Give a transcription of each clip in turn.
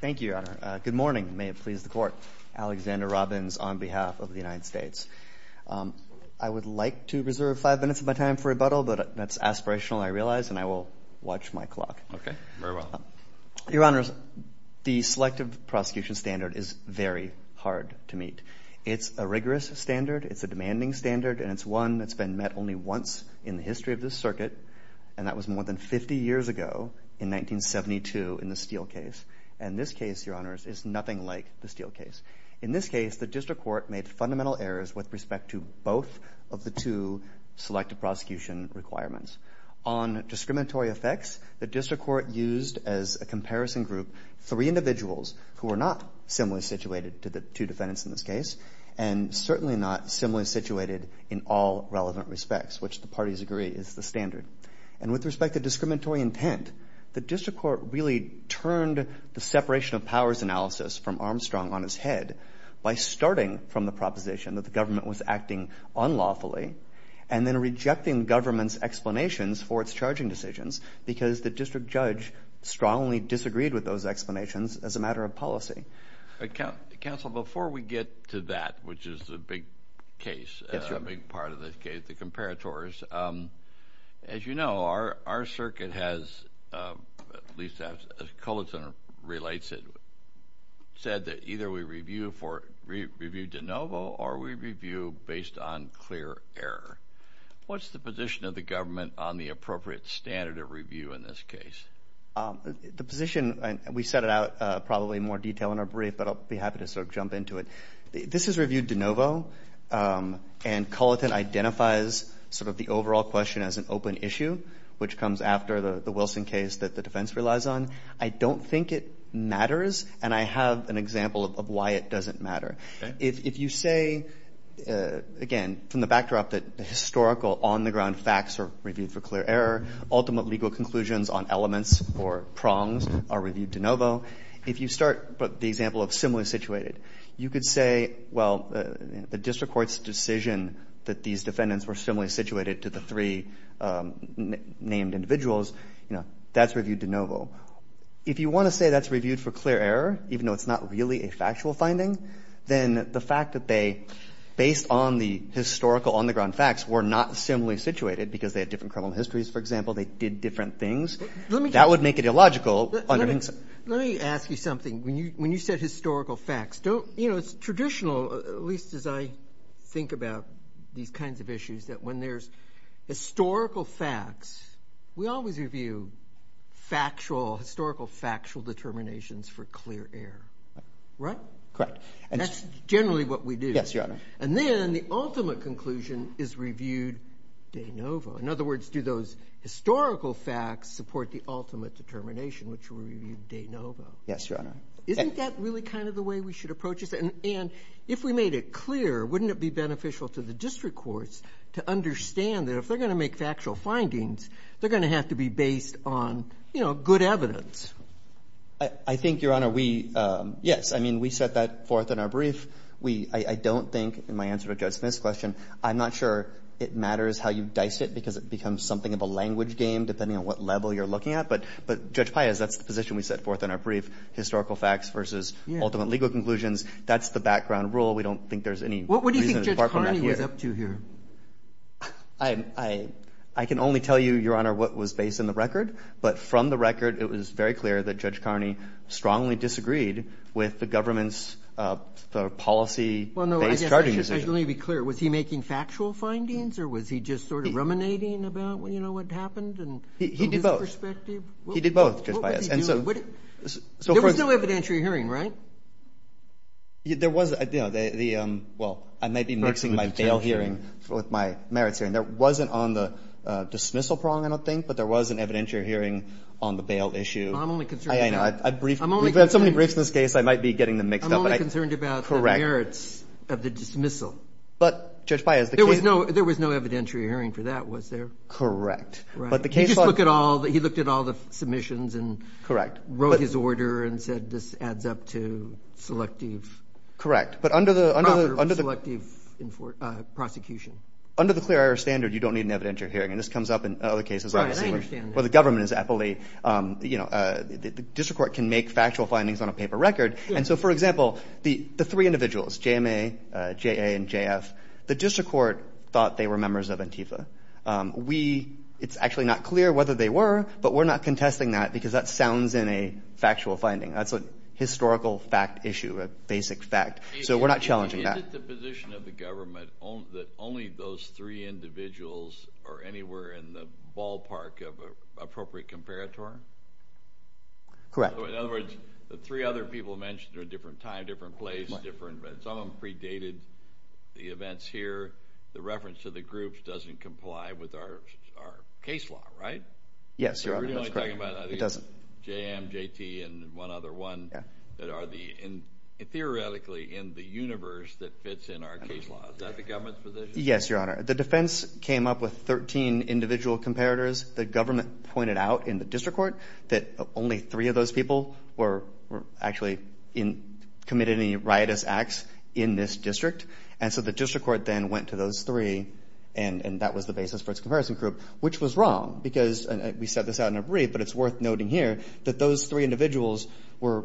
Thank you, Your Honor. Good morning. May it please the Court. Alexander Robbins on behalf of the United States. I would like to reserve five minutes of my time for rebuttal, but that's aspirational, I realize, and I will watch my clock. Okay. Very well. Your Honors, the Selective Prosecution Standard is very hard to meet. It's a rigorous standard, it's a demanding standard, and it's one that's been met only once in the history of this case, in 1972, in the Steele case. And this case, Your Honors, is nothing like the Steele case. In this case, the District Court made fundamental errors with respect to both of the two Selective Prosecution requirements. On discriminatory effects, the District Court used as a comparison group three individuals who are not similarly situated to the two defendants in this case, and certainly not similarly situated in all relevant respects, which the parties agree is the standard. And with respect to discriminatory intent, the District Court really turned the separation of powers analysis from Armstrong on his head by starting from the proposition that the government was acting unlawfully, and then rejecting government's explanations for its charging decisions, because the District Judge strongly disagreed with those explanations as a matter of policy. Counsel, before we get to that, which is the big case, a big part of this case, the comparators, as you know, our circuit has, at least as Culleton relates it, said that either we review for, review de novo, or we review based on clear error. What's the position of the government on the appropriate standard of review in this case? The position, we set it out probably in more detail in our brief, but I'll be happy to sort of jump into it. This is reviewed de novo, and Culleton identifies sort of the overall question as an open issue, which comes after the Wilson case that the defense relies on. I don't think it matters, and I have an example of why it doesn't matter. If you say, again, from the backdrop that the historical on-the-ground facts are reviewed for clear error, ultimate legal conclusions on elements or prongs are reviewed de novo, if you start with the example of similarly situated, you could say, well, the district court's decision that these defendants were similarly situated to the three named individuals, that's reviewed de novo. If you want to say that's reviewed for clear error, even though it's not really a factual finding, then the fact that they, based on the historical on-the-ground facts, were not similarly situated, because they had different criminal histories, for example, they did different things, that would make it illogical under NGSA. Let me ask you something. When you said historical facts, don't, you know, it's traditional, at least as I think about these kinds of issues, that when there's historical facts, we always review factual, historical factual determinations for clear error, right? Correct. That's generally what we do. Yes, Your Honor. And then the ultimate conclusion is reviewed de novo. In other words, do those historical facts support the ultimate determination, which were reviewed de novo? Yes, Your Honor. Isn't that really kind of the way we should approach this? And if we made it clear, wouldn't it be beneficial to the district courts to understand that if they're going to make factual findings, they're going to have to be based on, you know, good evidence? I think, Your Honor, we yes, I mean, we set that forth in our brief. I don't think, in my answer to Judge Smith's question, I'm not sure it matters how you dice it, because it becomes something of a language game, depending on what level you're looking at. But Judge Payaz, that's the position we set forth in our brief, historical facts versus ultimate legal conclusions. That's the background rule. We don't think there's any reason to depart from that here. What do you think Judge Carney was up to here? I can only tell you, Your Honor, what was based on the record. But from the record, it was very clear that Judge Carney strongly disagreed with the government's policy-based charging decision. Well, no, I guess I should only be clear. Was he making factual findings, or was he just sort of ruminating about, you know, what happened and from his perspective? He did both. He did both, Judge Payaz. What was he doing? There was no evidentiary hearing, right? There was, you know, the, well, I may be mixing my bail hearing with my merits hearing. There wasn't on the dismissal prong, I don't think, but there was an evidentiary hearing on the bail issue. I'm only concerned about... I know. If somebody briefs this case, I might be getting them mixed up. I'm only concerned about the merits of the dismissal. But, Judge Payaz... There was no evidentiary hearing for that, was there? Correct. He just looked at all the submissions and wrote his order and said, this adds up to selective... Correct. But under the... Selective prosecution. Under the clear error standard, you don't need an evidentiary hearing. And this comes up in other cases. Right, I understand that. Well, the government is aptly, you know, the district court can make factual findings on a paper record. And so, for example, the three individuals, JMA, JA, and JF, the district court thought they were members of ANTIFA. We, it's actually not clear whether they were, but we're not contesting that because that sounds in a factual finding. That's a historical fact issue, a basic fact. So, we're not challenging that. Is it the position of the government that only those three individuals are anywhere in the ballpark of appropriate comparator? Correct. In other words, the three other people mentioned are a different time, different place, different... Some of them predated the events here. The reference to the groups doesn't comply with our case law, right? Yes, Your Honor, that's correct. It doesn't. JM, JT, and one other one that are theoretically in the universe that fits in our case law. Is that the government's position? Yes, Your Honor. The defense came up with 13 individual comparators. The government pointed out in the district court that only three of those people were actually committed any riotous acts in this district. And so, the district court then went to those three, and that was the basis for its comparison group, which was wrong because we set this out in a brief, but it's worth noting here that those three individuals were,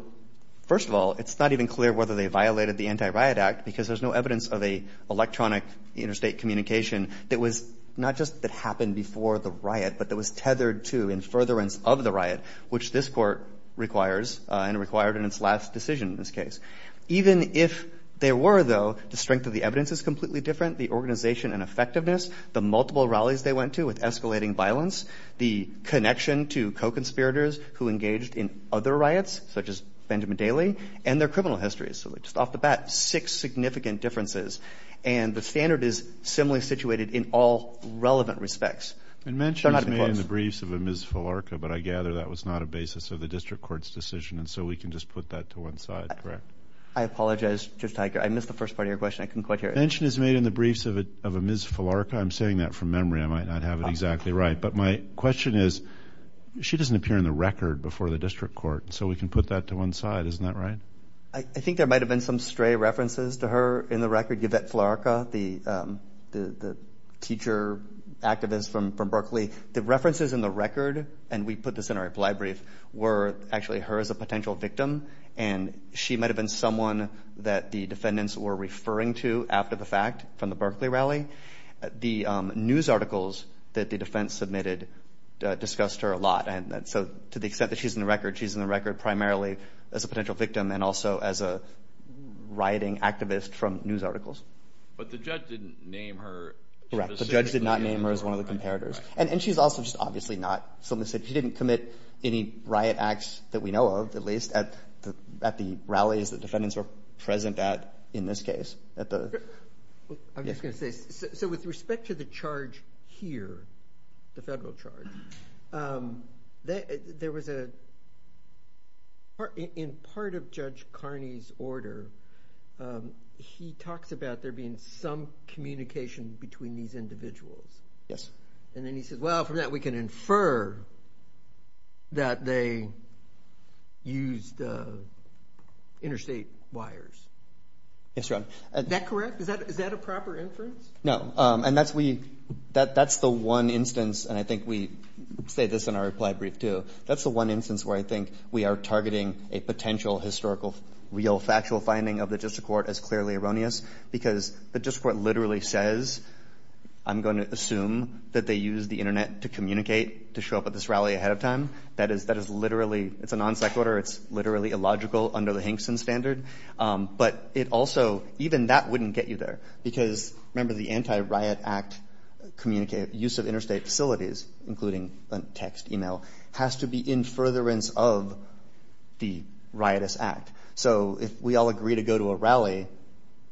first of all, it's not even clear whether they violated the Anti-Riot Act because there's no evidence of an electronic interstate communication that was not just that happened before the riot, but that was tethered to in furtherance of the riot, which this court requires and required in its last decision in this case. Even if there were, though, the strength of the evidence is completely different. The organization and effectiveness, the multiple rallies they went to with co-conspirators who engaged in other riots, such as Benjamin Daley, and their criminal histories. So, just off the bat, six significant differences. And the standard is similarly situated in all relevant respects. And mention is made in the briefs of a Ms. Falarca, but I gather that was not a basis of the district court's decision, and so we can just put that to one side, correct? I apologize, Judge Tiger. I missed the first part of your question. I couldn't quite hear it. Mention is made in the briefs of a Ms. Falarca. I'm saying that from memory. I might not have it exactly right. But my question is, she doesn't appear in the record before the district court, so we can put that to one side. Isn't that right? I think there might have been some stray references to her in the record. Yvette Falarca, the teacher activist from Berkeley, the references in the record, and we put this in our reply brief, were actually her as a potential victim, and she might have been someone that the defendants were referring to after the fact from the Berkeley rally. The news articles that the defense submitted discussed her a lot, and so to the extent that she's in the record, she's in the record primarily as a potential victim and also as a rioting activist from news articles. But the judge didn't name her. Correct. The judge did not name her as one of the comparators. And she's also just obviously not. She didn't commit any riot acts that we know of, at least, at the rallies the defendants were present at in this case. I'm just going to say, so with respect to the charge here, the federal charge, there was a – in part of Judge Carney's order, he talks about there being some communication between these individuals. Yes. And then he says, well, from that we can infer that they used interstate wires. Yes, Your Honor. Is that correct? Is that a proper inference? No. And that's the one instance, and I think we say this in our reply brief too, that's the one instance where I think we are targeting a potential historical, real factual finding of the district court as clearly erroneous, because the district court literally says, I'm going to assume that they used the Internet to communicate, to show up at this rally ahead of time. That is literally – it's a non-sect order. It's literally illogical under the Hankson standard. But it also – even that wouldn't get you there, because remember the Anti-Riot Act use of interstate facilities, including text, email, has to be in furtherance of the riotous act. So if we all agree to go to a rally,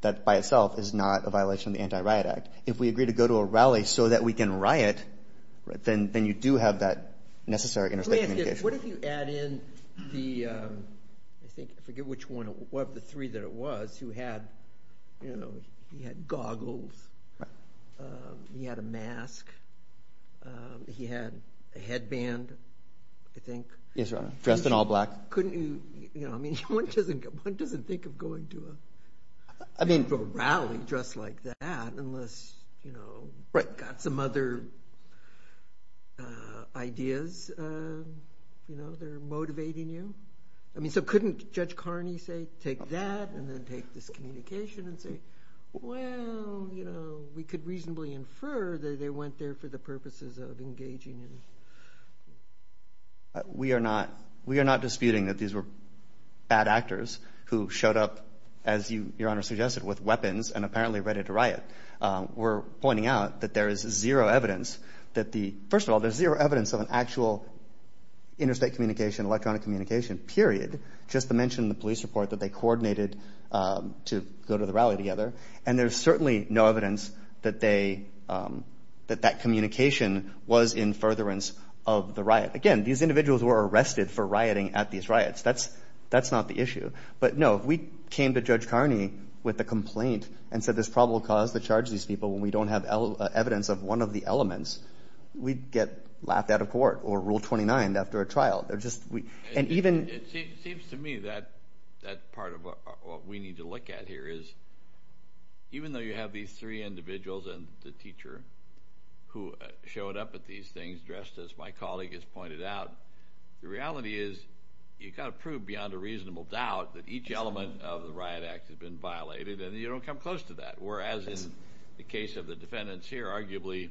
that by itself is not a violation of the Anti-Riot Act. If we agree to go to a rally so that we can riot, then you do have that necessary interstate communication. What if you add in the – I think – I forget which one – one of the three that it was who had goggles. He had a mask. He had a headband, I think. Yes, Your Honor. Dressed in all black. Couldn't you – I mean one doesn't think of going to a rally dressed like that unless, you know, got some other ideas, you know, that are motivating you. I mean so couldn't Judge Carney say take that and then take this communication and say, well, you know, we could reasonably infer that they went there for the purposes of engaging in – We are not – we are not disputing that these were bad actors who showed up, as Your Honor suggested, with weapons and apparently ready to riot. We're pointing out that there is zero evidence that the – first of all, there's zero evidence of an actual interstate communication, electronic communication, period, just to mention the police report that they coordinated to go to the rally together. And there's certainly no evidence that they – that that communication was in furtherance of the riot. Again, these individuals were arrested for rioting at these riots. That's not the issue. But, no, if we came to Judge Carney with a complaint and said there's probable cause to charge these people when we don't have evidence of one of the elements, we'd get laughed out of court or Rule 29 after a trial. And even – It seems to me that part of what we need to look at here is even though you have these three individuals and the teacher who showed up at these things dressed as my colleague has pointed out, the reality is you've got to prove beyond a reasonable doubt that each element of the riot act has been violated and you don't come close to that. Whereas in the case of the defendants here, arguably,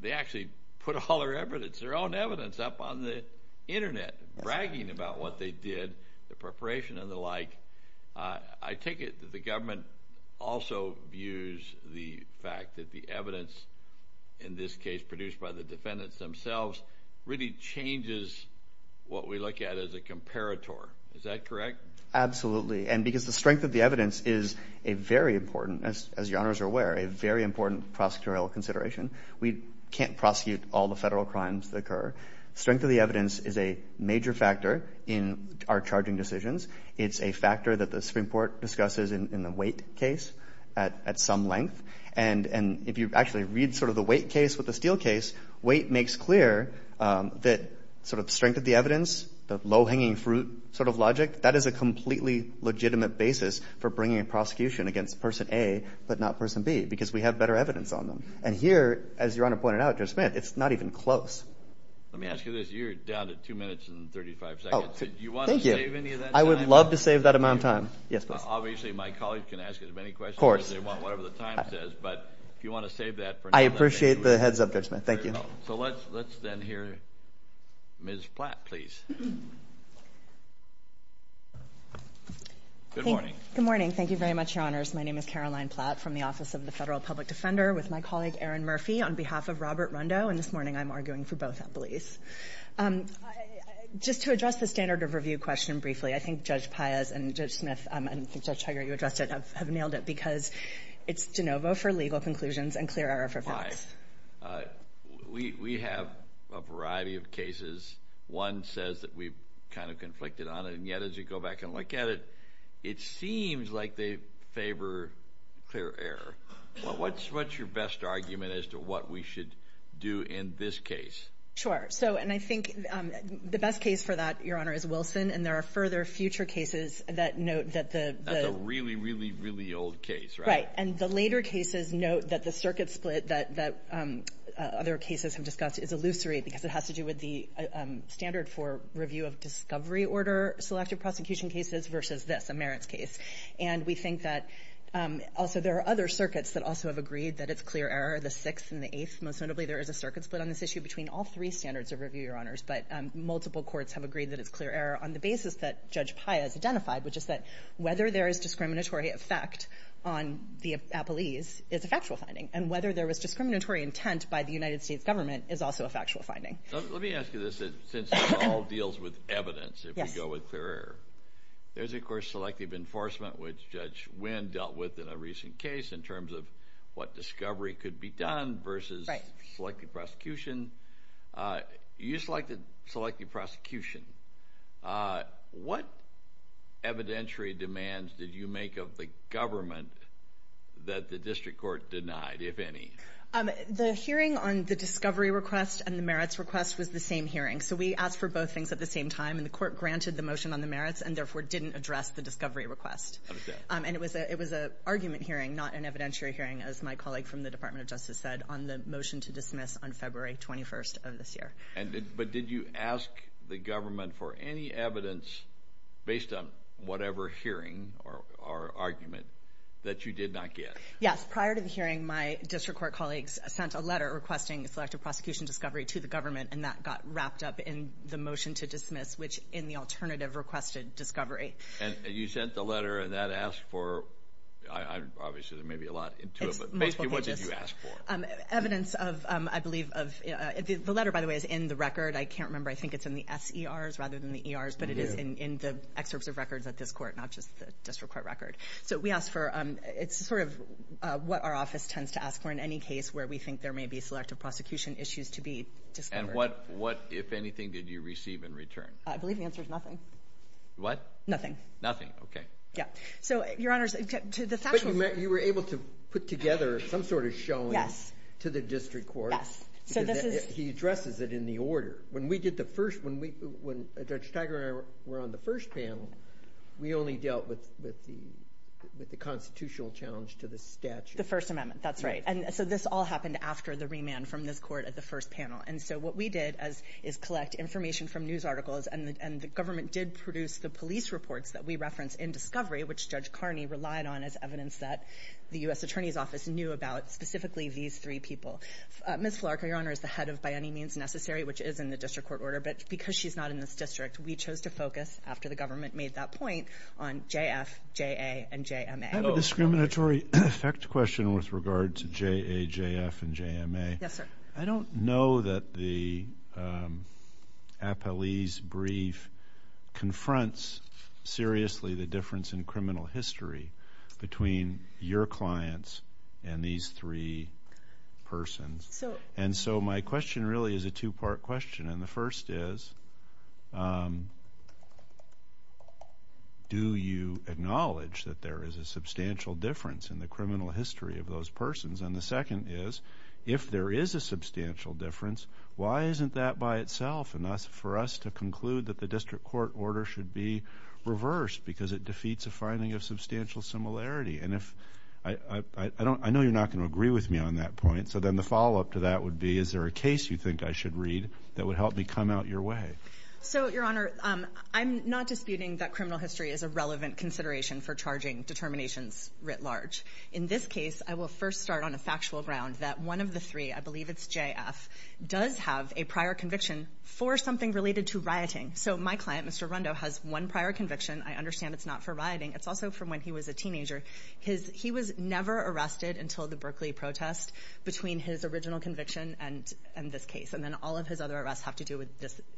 they actually put all their evidence, their own evidence up on the internet bragging about what they did, the preparation and the like. I take it that the government also views the fact that the evidence in this case produced by the defendants themselves really changes what we look at as a comparator. Is that correct? Absolutely. And because the strength of the evidence is a very important, as your honors are aware, a very important prosecutorial consideration. We can't prosecute all the federal crimes that occur. Strength of the evidence is a major factor in our charging decisions. It's a factor that the Supreme Court discusses in the Waite case at some length. And if you actually read sort of the Waite case with the Steele case, Waite makes clear that sort of the strength of the evidence, the low-hanging fruit sort of logic, that is a completely legitimate basis for bringing a prosecution against person A but not person B because we have better evidence on them. And here, as your honor pointed out, Judge Smith, it's not even close. Let me ask you this. You're down to two minutes and 35 seconds. Thank you. Do you want to save any of that time? I would love to save that amount of time. Yes, please. Obviously, my colleagues can ask as many questions as they want, whatever the time says, but if you want to save that for another time. I appreciate the heads-up, Judge Smith. Thank you. So let's then hear Ms. Platt, please. Good morning. Good morning. Thank you very much, your honors. My name is Caroline Platt from the Office of the Federal Public Defender with my colleague Aaron Murphy on behalf of Robert Rundo, and this morning I'm arguing for both employees. Just to address the standard of review question briefly, I think Judge Paez and Judge Smith and Judge Hager, you addressed it, have nailed it because it's de novo for legal conclusions and clear error for facts. Why? We have a variety of cases. One says that we've kind of conflicted on it, and yet as you go back and look at it, it seems like they favor clear error. What's your best argument as to what we should do in this case? Sure. And I think the best case for that, your honor, is Wilson, and there are further future cases that note that the – That's a really, really, really old case, right? Right. And the later cases note that the circuit split that other cases have discussed is illusory because it has to do with the standard for review of discovery order selective prosecution cases versus this, a merits case. And we think that also there are other circuits that also have agreed that it's clear error, the sixth and the eighth. But multiple courts have agreed that it's clear error on the basis that Judge Paya has identified, which is that whether there is discriminatory effect on the appellees is a factual finding, and whether there was discriminatory intent by the United States government is also a factual finding. Let me ask you this, since this all deals with evidence, if we go with clear error. There's, of course, selective enforcement, which Judge Wynn dealt with in a recent case in terms of what discovery could be done versus selective prosecution. You selected selective prosecution. What evidentiary demands did you make of the government that the district court denied, if any? The hearing on the discovery request and the merits request was the same hearing. So we asked for both things at the same time, and the court granted the motion on the merits and therefore didn't address the discovery request. And it was an argument hearing, not an evidentiary hearing, as my colleague from the Department of Justice said, on the motion to dismiss on February 21st of this year. But did you ask the government for any evidence based on whatever hearing or argument that you did not get? Yes. Prior to the hearing, my district court colleagues sent a letter requesting selective prosecution discovery to the government, and that got wrapped up in the motion to dismiss, which in the alternative requested discovery. And you sent the letter, and that asked for, obviously there may be a lot into it, but basically what did you ask for? Evidence of, I believe, the letter, by the way, is in the record. I can't remember. I think it's in the SERs rather than the ERs, but it is in the excerpts of records at this court, not just the district court record. So we asked for, it's sort of what our office tends to ask for in any case where we think there may be selective prosecution issues to be discovered. And what, if anything, did you receive in return? I believe the answer is nothing. What? Nothing. Nothing, okay. Yeah. So, Your Honors, to the factual point. But you were able to put together some sort of showing to the district court. Yes. He addresses it in the order. When we did the first, when Judge Tiger and I were on the first panel, we only dealt with the constitutional challenge to the statute. The First Amendment, that's right. And so this all happened after the remand from this court at the first panel. And so what we did is collect information from news articles, and the government did produce the police reports that we reference in discovery, which Judge Carney relied on as evidence that the U.S. Attorney's Office knew about, specifically these three people. Ms. Flark, Your Honor, is the head of By Any Means Necessary, which is in the district court order, but because she's not in this district, we chose to focus, after the government made that point, on JF, JA, and JMA. I have a discriminatory effect question with regard to JA, JF, and JMA. Yes, sir. I don't know that the appellee's brief confronts seriously the difference in criminal history between your clients and these three persons. And so my question really is a two-part question. And the first is, do you acknowledge that there is a substantial difference in the criminal history of those persons? And the second is, if there is a substantial difference, why isn't that by itself enough for us to conclude that the district court order should be reversed because it defeats a finding of substantial similarity? And I know you're not going to agree with me on that point, so then the follow-up to that would be, is there a case you think I should read that would help me come out your way? So, Your Honor, I'm not disputing that criminal history is a relevant consideration for charging determinations writ large. In this case, I will first start on a factual ground that one of the three, I believe it's JF, does have a prior conviction for something related to rioting. So my client, Mr. Rundo, has one prior conviction. I understand it's not for rioting. It's also from when he was a teenager. He was never arrested until the Berkeley protest between his original conviction and this case. And then all of his other arrests have to do with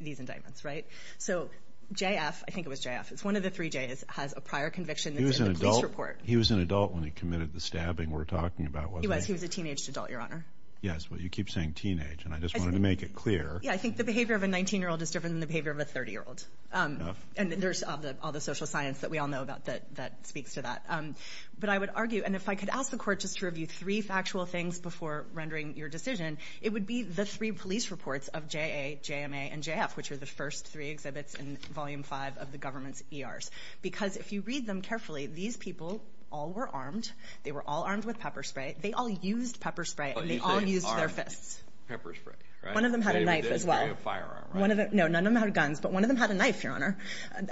these indictments, right? So JF, I think it was JF, it's one of the three Js, has a prior conviction that's in the police report. He was an adult when he committed the stabbing we're talking about, wasn't he? He was. He was a teenaged adult, Your Honor. Yes, well, you keep saying teenage, and I just wanted to make it clear. Yeah, I think the behavior of a 19-year-old is different than the behavior of a 30-year-old. And there's all the social science that we all know about that speaks to that. But I would argue, and if I could ask the Court just to review three factual things before rendering your decision, it would be the three police reports of JA, JMA, and JF, which are the first three exhibits in Volume 5 of the government's ERs. Because if you read them carefully, these people all were armed. They were all armed with pepper spray. They all used pepper spray, and they all used their fists. Pepper spray, right? One of them had a knife as well. They didn't carry a firearm, right? No, none of them had guns. But one of them had a knife, Your Honor,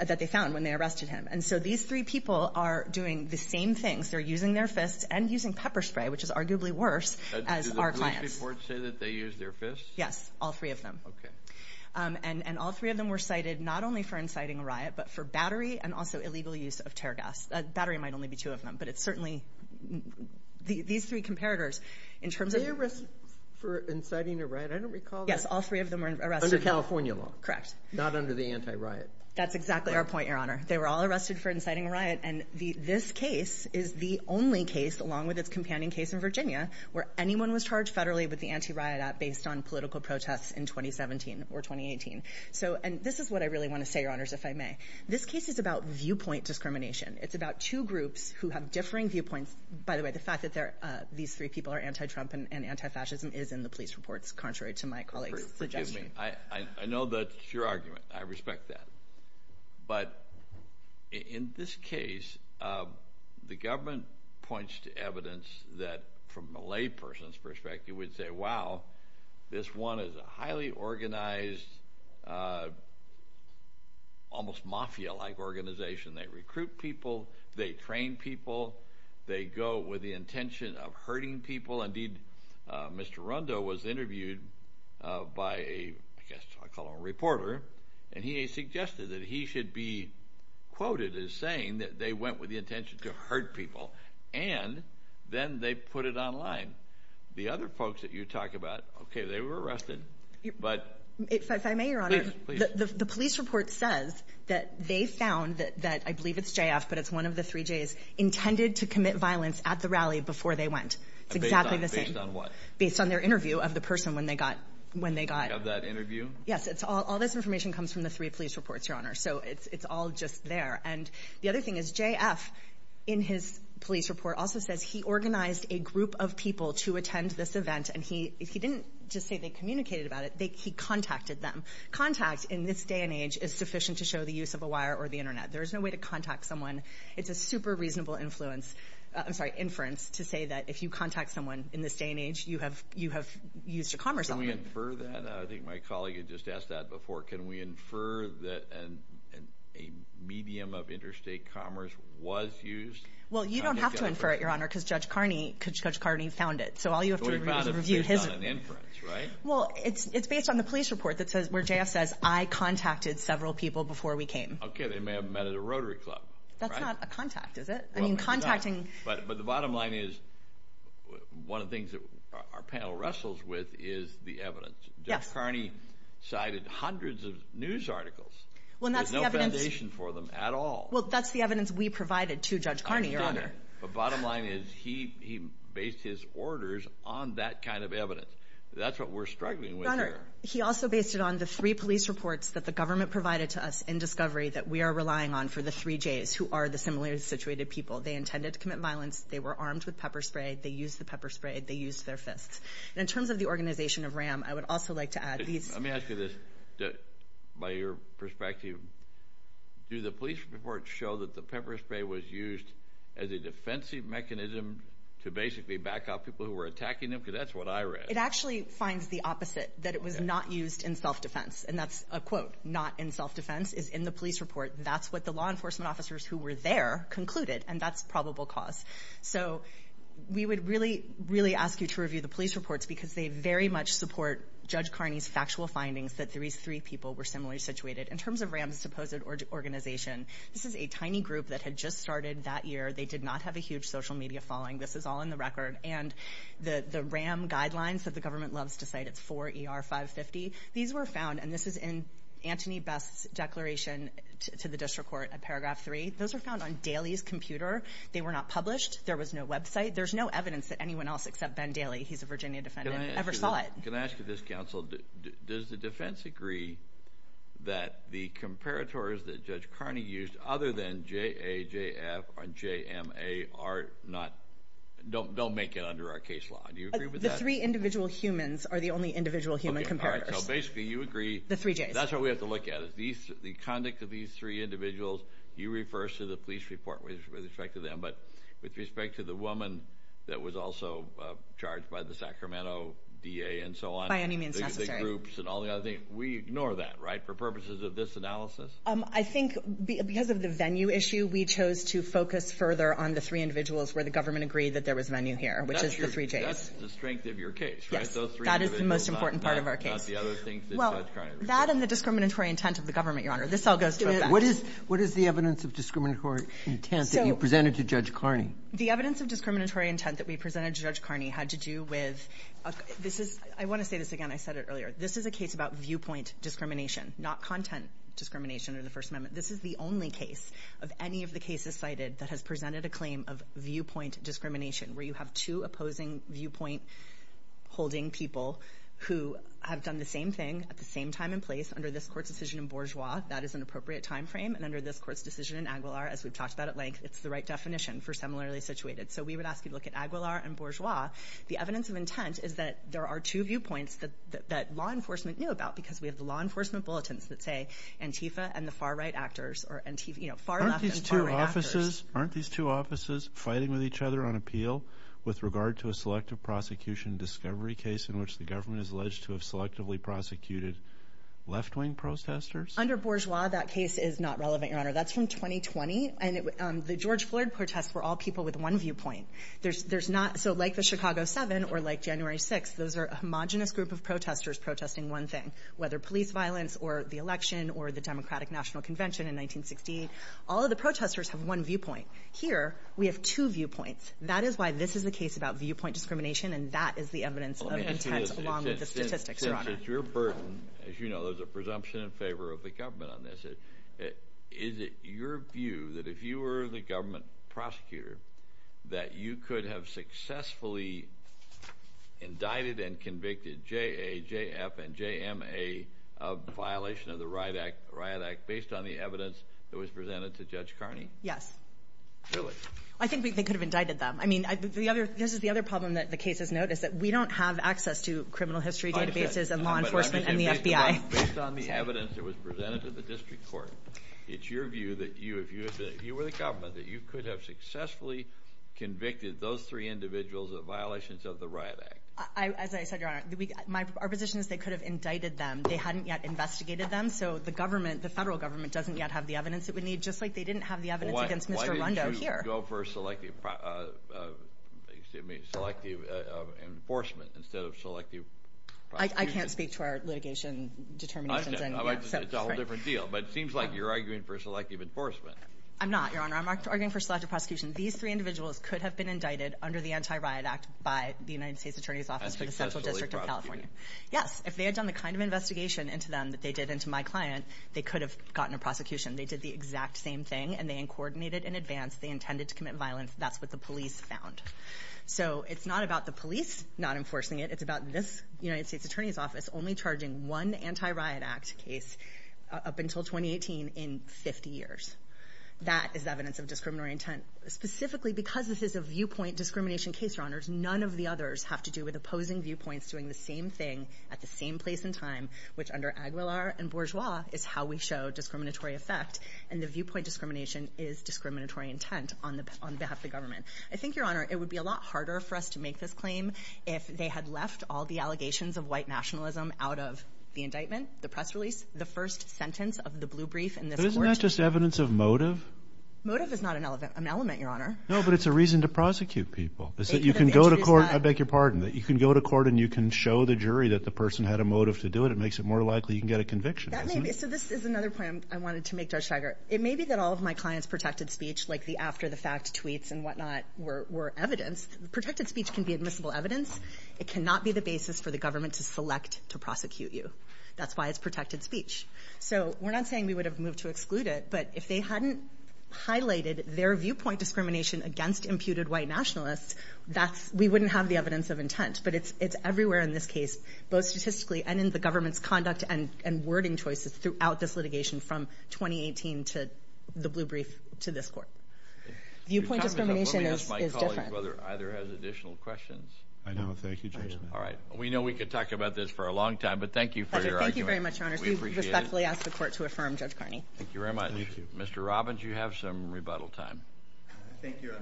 that they found when they arrested him. And so these three people are doing the same things. They're using their fists and using pepper spray, which is arguably worse as our clients. Do the police reports say that they used their fists? Yes, all three of them. Okay. And all three of them were cited not only for inciting a riot, but for battery and also illegal use of tear gas. Battery might only be two of them, but it's certainly these three comparators. Were they arrested for inciting a riot? I don't recall that. Yes, all three of them were arrested. Under California law. Correct. Not under the anti-riot. That's exactly our point, Your Honor. They were all arrested for inciting a riot, and this case is the only case, along with its companion case in Virginia, where anyone was charged federally with the anti-riot act based on political protests in 2017 or 2018. And this is what I really want to say, Your Honors, if I may. This case is about viewpoint discrimination. It's about two groups who have differing viewpoints. By the way, the fact that these three people are anti-Trump and anti-fascism is in the police reports, contrary to my colleague's suggestion. Forgive me. I know that's your argument. I respect that. But in this case, the government points to evidence that, from a layperson's perspective, we'd say, wow, this one is a highly organized, almost mafia-like organization. They recruit people. They train people. They go with the intention of hurting people. Indeed, Mr. Rundo was interviewed by a, I guess I'll call him a reporter, and he suggested that he should be quoted as saying that they went with the intention to hurt people, and then they put it online. The other folks that you talk about, okay, they were arrested. If I may, Your Honor, the police report says that they found that, I believe it's JF, but it's one of the three Js, intended to commit violence at the rally before they went. It's exactly the same. Based on what? Based on their interview of the person when they got. Of that interview? Yes. All this information comes from the three police reports, Your Honor. So it's all just there. And the other thing is JF, in his police report, also says he organized a group of people to attend this event, and he didn't just say they communicated about it. He contacted them. Contact in this day and age is sufficient to show the use of a wire or the Internet. There is no way to contact someone. It's a super reasonable inference to say that if you contact someone in this day and age, you have used a commerce element. Can we infer that? I think my colleague had just asked that before. Can we infer that a medium of interstate commerce was used? Well, you don't have to infer it, Your Honor, because Judge Carney found it. So all you have to do is review his. It's based on an inference, right? Well, it's based on the police report where JF says, I contacted several people before we came. Okay. They may have met at a Rotary Club. That's not a contact, is it? I mean, contacting. But the bottom line is one of the things that our panel wrestles with is the evidence. Yes. Judge Carney cited hundreds of news articles. There's no foundation for them at all. Well, that's the evidence we provided to Judge Carney, Your Honor. But bottom line is he based his orders on that kind of evidence. That's what we're struggling with here. Your Honor, he also based it on the three police reports that the government provided to us in discovery that we are relying on for the three Js who are the similarly situated people. They intended to commit violence. They were armed with pepper spray. They used the pepper spray. They used their fists. In terms of the organization of RAM, I would also like to add these. Let me ask you this. By your perspective, do the police reports show that the pepper spray was used as a defensive mechanism to basically back up people who were attacking them? Because that's what I read. It actually finds the opposite, that it was not used in self-defense. And that's a quote. Not in self-defense is in the police report. That's what the law enforcement officers who were there concluded. And that's probable cause. So we would really, really ask you to review the police reports because they very much support Judge Carney's factual findings that these three people were similarly situated. In terms of RAM's supposed organization, this is a tiny group that had just started that year. They did not have a huge social media following. This is all in the record. And the RAM guidelines that the government loves to cite, it's 4ER550. These were found, and this is in Antony Best's declaration to the district court at paragraph 3. Those were found on Daly's computer. They were not published. There was no website. There's no evidence that anyone else except Ben Daly, he's a Virginia defendant, ever saw it. Can I ask you this, counsel? Does the defense agree that the comparators that Judge Carney used other than JAJF or JMA don't make it under our case law? Do you agree with that? The three individual humans are the only individual human comparators. So basically you agree. The three J's. That's what we have to look at. Because the conduct of these three individuals, you refer to the police report with respect to them, but with respect to the woman that was also charged by the Sacramento DA and so on. By any means necessary. The groups and all the other things. We ignore that, right, for purposes of this analysis? I think because of the venue issue, we chose to focus further on the three individuals where the government agreed that there was venue here, which is the three J's. That's the strength of your case, right? Yes. Those three individuals. That is the most important part of our case. That and the discriminatory intent of the government, Your Honor. This all goes to a back. What is the evidence of discriminatory intent that you presented to Judge Carney? The evidence of discriminatory intent that we presented to Judge Carney had to do with I want to say this again. I said it earlier. This is a case about viewpoint discrimination, not content discrimination or the First Amendment. This is the only case of any of the cases cited that has presented a claim of viewpoint discrimination where you have two opposing viewpoint-holding people who have done the same thing at the same time and place under this court's decision in Bourgeois. That is an appropriate time frame. And under this court's decision in Aguilar, as we've talked about at length, it's the right definition for similarly situated. So we would ask you to look at Aguilar and Bourgeois. The evidence of intent is that there are two viewpoints that law enforcement knew about because we have the law enforcement bulletins that say Antifa and the far-right actors. Aren't these two offices fighting with each other on appeal? With regard to a selective prosecution discovery case in which the government is alleged to have selectively prosecuted left-wing protesters? Under Bourgeois, that case is not relevant, Your Honor. That's from 2020, and the George Floyd protests were all people with one viewpoint. So like the Chicago 7 or like January 6, those are a homogenous group of protesters protesting one thing, whether police violence or the election or the Democratic National Convention in 1968. All of the protesters have one viewpoint. Here, we have two viewpoints. That is why this is the case about viewpoint discrimination, and that is the evidence of intent along with the statistics, Your Honor. Since it's your burden, as you know, there's a presumption in favor of the government on this. Is it your view that if you were the government prosecutor, that you could have successfully indicted and convicted J.A., J.F., and J.M.A. of violation of the Riot Act based on the evidence that was presented to Judge Carney? Yes. Really? I think they could have indicted them. I mean, this is the other problem that the case has noted, is that we don't have access to criminal history databases and law enforcement and the FBI. Based on the evidence that was presented to the district court, it's your view that if you were the government, that you could have successfully convicted those three individuals of violations of the Riot Act. As I said, Your Honor, our position is they could have indicted them. They hadn't yet investigated them, so the federal government doesn't yet have the evidence that we need, just like they didn't have the evidence against Mr. Rondeau here. So you would go for selective enforcement instead of selective prosecution? I can't speak to our litigation determinations. It's a whole different deal, but it seems like you're arguing for selective enforcement. I'm not, Your Honor. I'm arguing for selective prosecution. These three individuals could have been indicted under the Anti-Riot Act by the United States Attorney's Office for the Central District of California. Successfully prosecuted. Yes. If they had done the kind of investigation into them that they did into my client, they could have gotten a prosecution. They did the exact same thing, and they coordinated in advance. They intended to commit violence. That's what the police found. So it's not about the police not enforcing it. It's about this United States Attorney's Office only charging one Anti-Riot Act case up until 2018 in 50 years. That is evidence of discriminatory intent. Specifically because this is a viewpoint discrimination case, Your Honors, none of the others have to do with opposing viewpoints doing the same thing at the same place and time, which under Aguilar and Bourgeois is how we show discriminatory effect. And the viewpoint discrimination is discriminatory intent on behalf of the government. I think, Your Honor, it would be a lot harder for us to make this claim if they had left all the allegations of white nationalism out of the indictment, the press release, the first sentence of the blue brief in this court. Isn't that just evidence of motive? Motive is not an element, Your Honor. No, but it's a reason to prosecute people. You can go to court. I beg your pardon. You can go to court and you can show the jury that the person had a motive to do it. It makes it more likely you can get a conviction. So this is another point I wanted to make, Judge Steiger. It may be that all of my clients' protected speech, like the after-the-fact tweets and whatnot, were evidence. Protected speech can be admissible evidence. It cannot be the basis for the government to select to prosecute you. That's why it's protected speech. So we're not saying we would have moved to exclude it, but if they hadn't highlighted their viewpoint discrimination against imputed white nationalists, we wouldn't have the evidence of intent. But it's everywhere in this case, both statistically and in the government's conduct and wording choices throughout this litigation from 2018 to the blue brief to this court. Viewpoint discrimination is different. Let me ask my colleague whether either has additional questions. I know. Thank you, Judge Smith. All right. We know we could talk about this for a long time, but thank you for your argument. Thank you very much, Your Honor. We respectfully ask the court to affirm Judge Carney. Thank you very much. Thank you. Mr. Robbins, you have some rebuttal time. Thank you, Your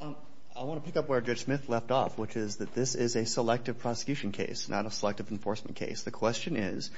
Honor. I want to pick up where Judge Smith left off, which is that this is a selective prosecution case, not a selective enforcement case. The question is,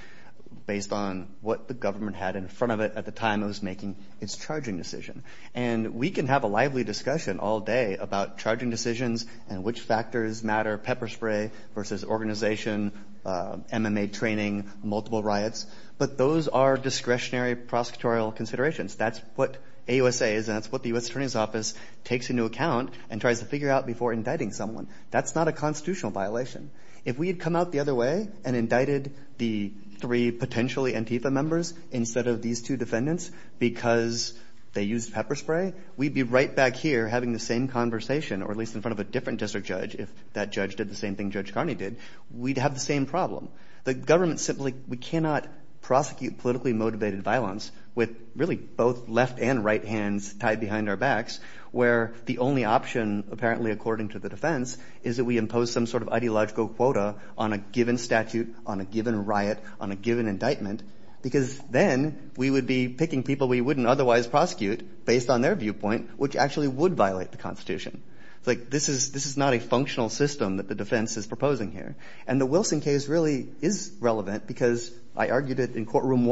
based on what the government had in front of it at the time it was making its charging decision, and we can have a lively discussion all day about charging decisions and which factors matter, pepper spray versus organization, MMA training, multiple riots, but those are discretionary prosecutorial considerations. That's what AUSA is, and that's what the U.S. Attorney's Office takes into account and tries to figure out before indicting someone. That's not a constitutional violation. If we had come out the other way and indicted the three potentially Antifa members instead of these two defendants because they used pepper spray, we'd be right back here having the same conversation, or at least in front of a different district judge, if that judge did the same thing Judge Carney did. We'd have the same problem. The government simply cannot prosecute politically motivated violence with really both left and right hands tied behind our backs, where the only option, apparently according to the defense, is that we impose some sort of ideological quota on a given statute, on a given riot, on a given indictment, because then we would be picking people we wouldn't otherwise prosecute based on their viewpoint, which actually would violate the Constitution. It's like this is not a functional system that the defense is proposing here. And the Wilson case really is relevant because I argued it in Courtroom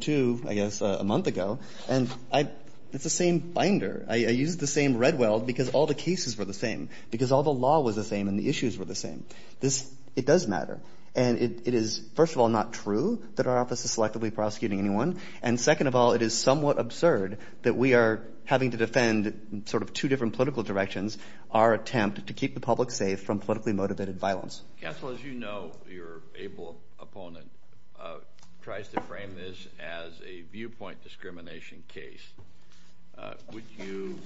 2, I guess, a month ago, and it's the same binder. I used the same red weld because all the cases were the same, because all the law was the same and the issues were the same. It does matter. And it is, first of all, not true that our office is selectively prosecuting anyone, and second of all, it is somewhat absurd that we are having to defend sort of two different political directions, our attempt to keep the public safe from politically motivated violence. Counsel, as you know, your able opponent tries to frame this as a viewpoint discrimination case. Would you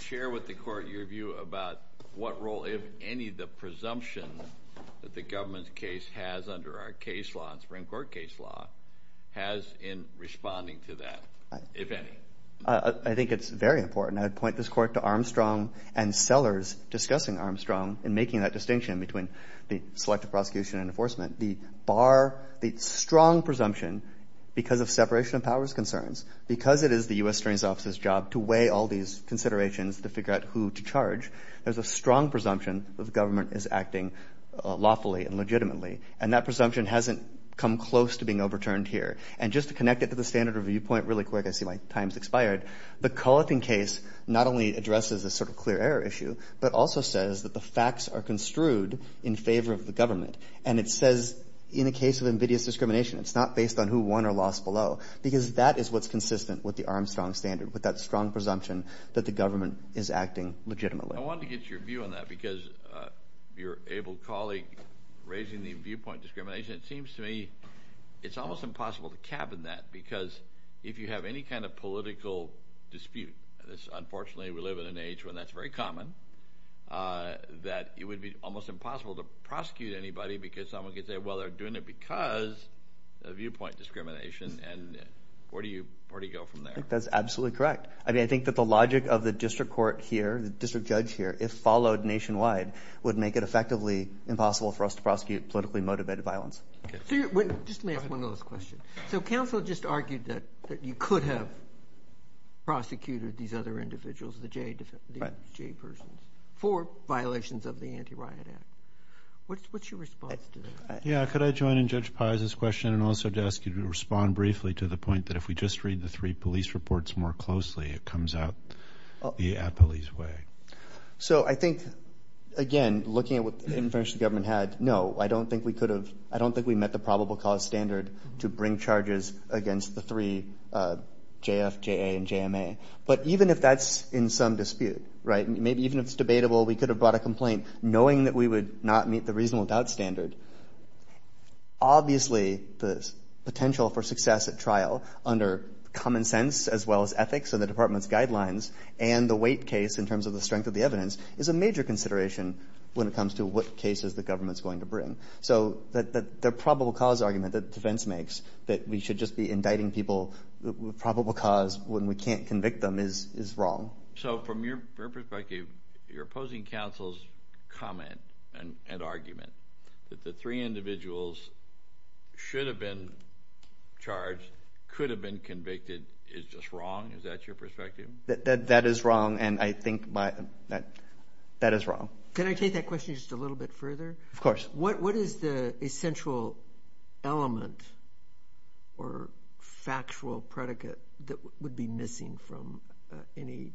share with the Court your view about what role, if any, the presumption that the government's case has under our case law, our Supreme Court case law, has in responding to that, if any? I think it's very important. I would point this Court to Armstrong and Sellers discussing Armstrong and making that distinction between the selective prosecution and enforcement. The bar, the strong presumption, because of separation of powers concerns, because it is the U.S. Attorney's Office's job to weigh all these considerations to figure out who to charge, there's a strong presumption that the government is acting lawfully and legitimately, and that presumption hasn't come close to being overturned here. And just to connect it to the standard review point really quick, I see my time's expired. The Cullithan case not only addresses a sort of clear error issue, but also says that the facts are construed in favor of the government, and it says in the case of ambiguous discrimination, it's not based on who won or lost below, because that is what's consistent with the Armstrong standard, with that strong presumption that the government is acting legitimately. I wanted to get your view on that because your able colleague raising the viewpoint discrimination, it seems to me it's almost impossible to cabin that because if you have any kind of political dispute, unfortunately we live in an age when that's very common, that it would be almost impossible to prosecute anybody because someone could say, well, they're doing it because of viewpoint discrimination, and where do you go from there? I think that's absolutely correct. I think that the logic of the district court here, the district judge here, if followed nationwide, would make it effectively impossible for us to prosecute politically motivated violence. Just let me ask one last question. So counsel just argued that you could have prosecuted these other individuals, the J persons, for violations of the Anti-Riot Act. What's your response to that? Yeah, could I join in Judge Paz's question and also to ask you to respond briefly to the point that if we just read the three police reports more closely, it comes out the police way. So I think, again, looking at what the administration and government had, no, I don't think we could have, I don't think we met the probable cause standard to bring charges against the three, JF, JA, and JMA. But even if that's in some dispute, right, maybe even if it's debatable, we could have brought a complaint knowing that we would not meet the reasonable doubt standard. Obviously the potential for success at trial under common sense as well as ethics and the department's guidelines and the weight case in terms of the strength of the evidence is a major consideration when it comes to what cases the government is going to bring. So the probable cause argument that defense makes that we should just be indicting people with probable cause when we can't convict them is wrong. So from your perspective, your opposing counsel's comment and argument that the three individuals should have been charged, could have been convicted, is just wrong? Is that your perspective? That is wrong, and I think that is wrong. Can I take that question just a little bit further? Of course. What is the essential element or factual predicate that would be missing from any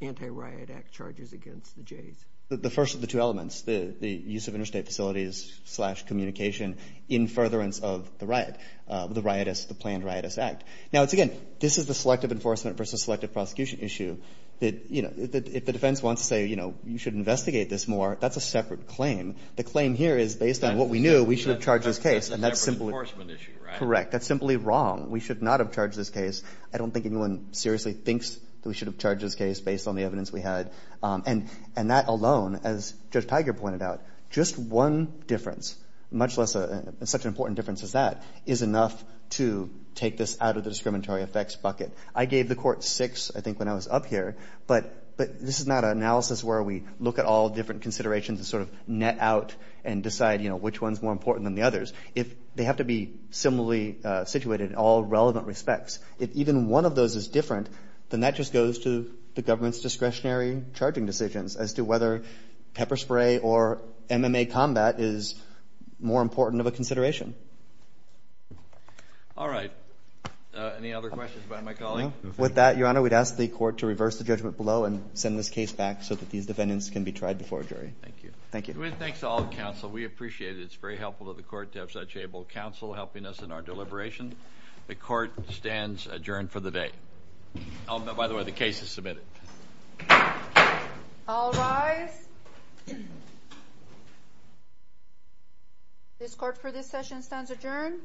anti-riot act charges against the Jays? The first of the two elements, the use of interstate facilities slash communication in furtherance of the riot, the planned riotous act. Now, again, this is the selective enforcement versus selective prosecution issue. If the defense wants to say, you know, you should investigate this more, that's a separate claim. The claim here is based on what we knew, we should have charged this case. That's a separate enforcement issue, right? Correct. That's simply wrong. We should not have charged this case. I don't think anyone seriously thinks that we should have charged this case based on the evidence we had. And that alone, as Judge Tiger pointed out, just one difference, much less such an important difference as that, is enough to take this out of the discriminatory effects bucket. I gave the court six, I think, when I was up here, but this is not an analysis where we look at all different considerations and sort of net out and decide, you know, which one is more important than the others. They have to be similarly situated in all relevant respects. If even one of those is different, then that just goes to the government's discretionary charging decisions as to whether pepper spray or MMA combat is more important of a consideration. All right. Any other questions about my calling? No. With that, Your Honor, we'd ask the court to reverse the judgment below and send this case back so that these defendants can be tried before a jury. Thank you. Thank you. Thanks to all the counsel. We appreciate it. It's very helpful to the court to have such able counsel helping us in our deliberation. The court stands adjourned for the day. By the way, the case is submitted. All rise. This court for this session stands adjourned.